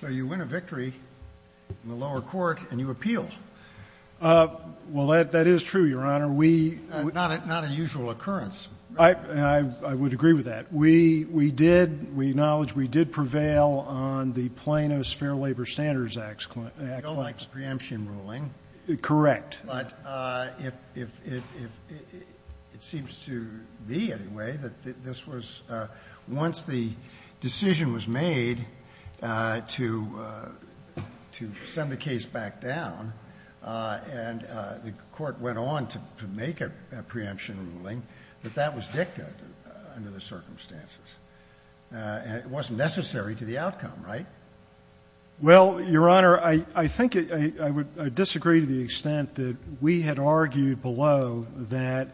So you win a victory in the lower court, and you appeal. Well, that is true, Your Honor. We — Not a usual occurrence. I would agree with that. We did — we acknowledge we did prevail on the Plano's Fair Labor Standards Act — No, like the preemption ruling. Correct. But if — it seems to me, anyway, that this was — once the decision was made to send the case back down, and the Court went on to make a preemption ruling, that that was dictated under the circumstances. And it wasn't necessary to the outcome, right? Well, Your Honor, I think it — I would — I disagree to the extent that we had argued below that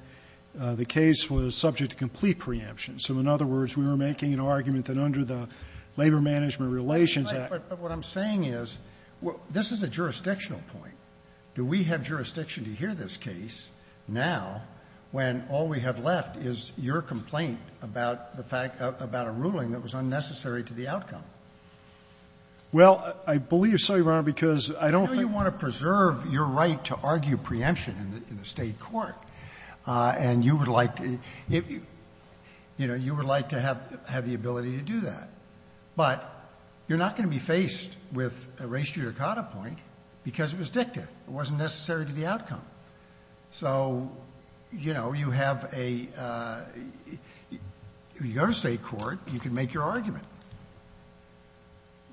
the case was subject to complete preemption. So, in other words, we were making an argument that under the Labor-Management Relations Act — But what I'm saying is, this is a jurisdictional point. Do we have jurisdiction to hear this case now when all we have left is your complaint Well, I believe so, Your Honor, because I don't think — I know you want to preserve your right to argue preemption in the State court. And you would like — you know, you would like to have the ability to do that. But you're not going to be faced with a res judicata point because it was dicta. It wasn't necessary to the outcome. So, you know, you have a — if you go to State court, you can make your argument.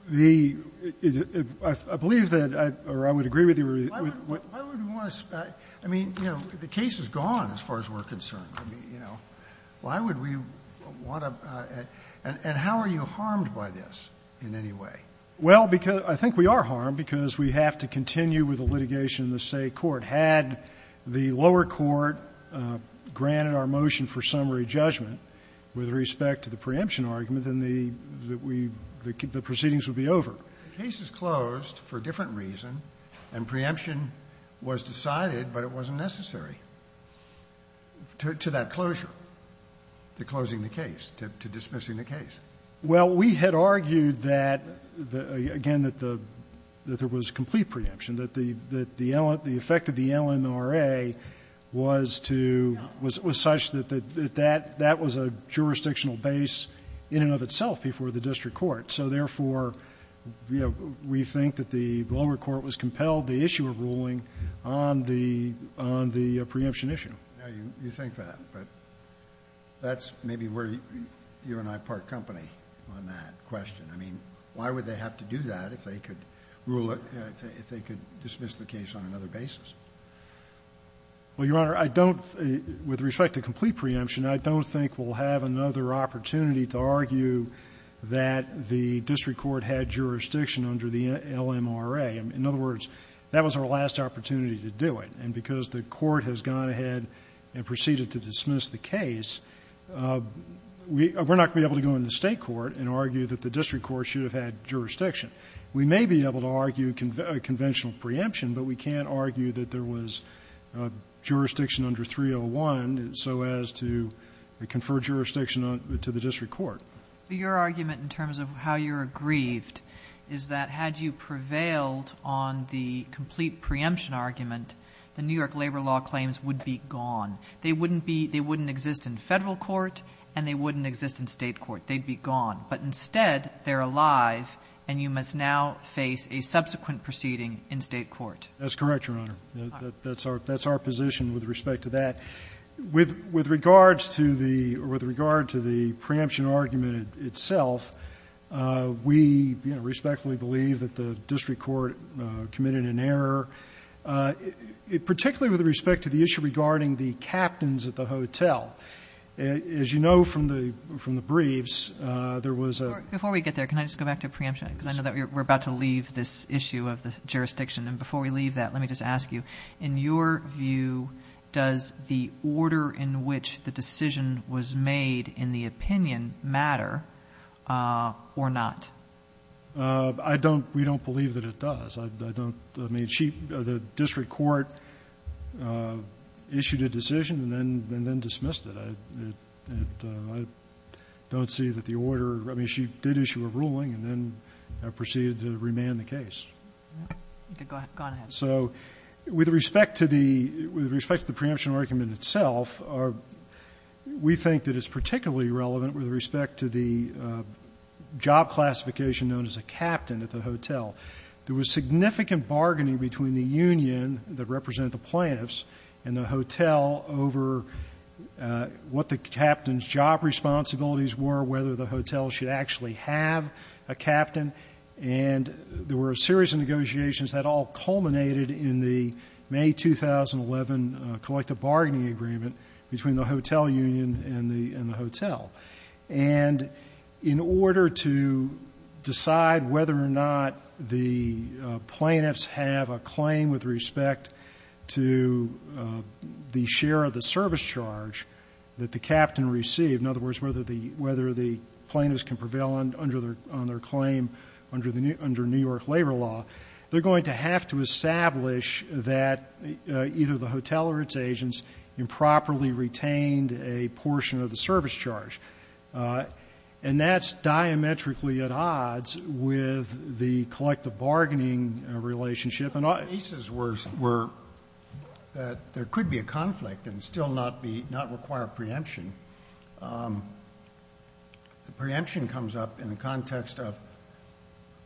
The — I believe that I — or I would agree with you with what — Why would we want to — I mean, you know, the case is gone as far as we're concerned. I mean, you know, why would we want to — and how are you harmed by this in any way? Well, because — I think we are harmed because we have to continue with the litigation in the State court. Had the lower court granted our motion for summary judgment with respect to the preemption argument, then the — that we — the proceedings would be over. The case is closed for a different reason, and preemption was decided, but it wasn't necessary to that closure, to closing the case, to dismissing the case. Well, we had argued that — again, that the — that there was complete preemption, that the — that the effect of the LNRA was to — was such that that — that was a jurisdictional base in and of itself before the district court. So, therefore, you know, we think that the lower court was compelled to issue a ruling on the — on the preemption issue. Now, you think that, but that's maybe where you and I part company on that question. I mean, why would they have to do that if they could rule it — if they could dismiss the case on another basis? Well, Your Honor, I don't — with respect to complete preemption, I don't think we'll have another opportunity to argue that the district court had jurisdiction under the LNRA. In other words, that was our last opportunity to do it. And because the court has gone ahead and proceeded to dismiss the case, we — we're not going to be able to go into State court and argue that the district court should have had jurisdiction. We may be able to argue conventional preemption, but we can't argue that there was jurisdiction under 301 so as to confer jurisdiction on — to the district court. Your argument in terms of how you're aggrieved is that had you prevailed on the complete preemption argument, the New York labor law claims would be gone. They wouldn't be — they wouldn't exist in Federal court, and they wouldn't exist in State court. They'd be gone. But instead, they're alive, and you must now face a subsequent proceeding in State court. That's correct, Your Honor. That's our — that's our position with respect to that. With — with regards to the — or with regard to the preemption argument itself, we, you know, respectfully believe that the district court committed an error, particularly with respect to the issue regarding the captains at the hotel. As you know from the — from the briefs, there was a — Before we get there, can I just go back to preemption, because I know that we're about to leave this issue of the jurisdiction. And before we leave that, let me just ask you, in your view, does the order in which the decision was made in the opinion matter or not? I don't — we don't believe that it does. I don't — I mean, she — the district court issued a decision and then — and then dismissed it. I don't see that the order — I mean, she did issue a ruling and then proceeded to remand the case. Okay. Go ahead. Go on ahead. So with respect to the — with respect to the preemption argument itself, we think that it's particularly relevant with respect to the job classification known as a captain at the hotel. There was significant bargaining between the union that represented the plaintiffs and the hotel over what the captain's job responsibilities were, whether the hotel should actually have a captain. And there were a series of negotiations that all culminated in the May 2011 collective bargaining agreement between the hotel union and the — and the hotel. And in order to decide whether or not the plaintiffs have a claim with respect to the share of the service charge that the captain received — in other words, whether the — whether the plaintiffs can prevail on their claim under New York labor law — they're going to have to establish that either the hotel or its agents improperly retained a portion of the service charge. And that's diametrically at odds with the collective bargaining relationship. And all the cases were — were that there could be a conflict and still not be — not require preemption. The preemption comes up in the context of —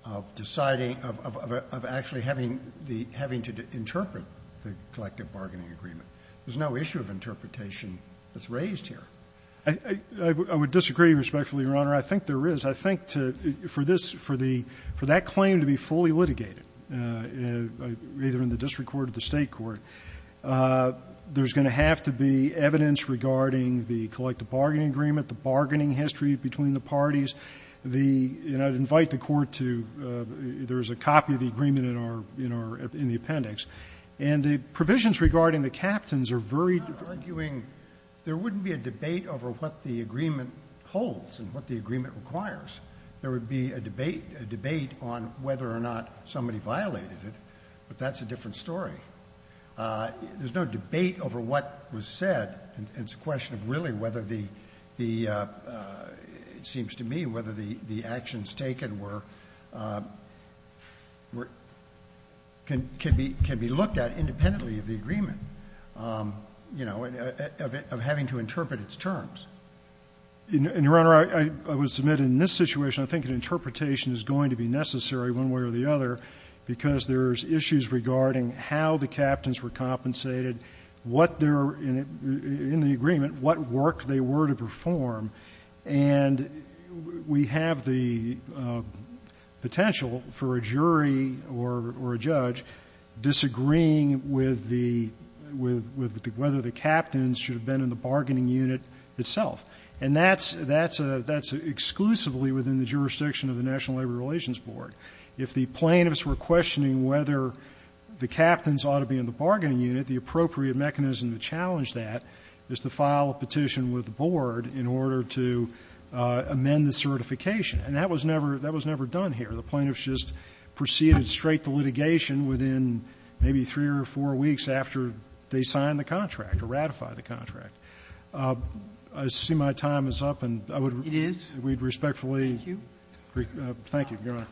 of deciding — of actually having the — having to interpret the collective bargaining agreement. There's no issue of interpretation that's raised here. I would disagree respectfully, Your Honor. I think there is. I think to — for this — for the — for that claim to be fully litigated, either in the district court or the state court, there's going to have to be evidence regarding the collective bargaining agreement, the bargaining history between the parties, the — and I'd invite the Court to — there's a copy of the agreement in our — in the appendix. And the provisions regarding the captains are very — We're not arguing — there wouldn't be a debate over what the agreement holds and what the agreement requires. There would be a debate — a debate on whether or not somebody violated it, but that's a different story. There's no debate over what was said. It's a question of really whether the — the — it seems to me whether the actions taken were — were — can be — can be looked at independently of the agreement, you know, of having to interpret its terms. And, Your Honor, I would submit in this situation, I think an interpretation is going to be necessary one way or the other because there's issues regarding how the captains were compensated, what their — in the agreement, what work they were to perform. And we have the potential for a jury or a judge disagreeing with the — with the — whether the captains should have been in the bargaining unit itself. And that's — that's exclusively within the jurisdiction of the National Labor Relations Board. If the plaintiffs were questioning whether the captains ought to be in the bargaining unit, the appropriate mechanism to challenge that is to file a petition with the board in order to amend the certification. And that was never — that was never done here. The plaintiffs just proceeded straight to litigation within maybe three or four weeks after they signed the contract or ratified the contract. I see my time is up, and I would — Sotomayor, thank you, Your Honor.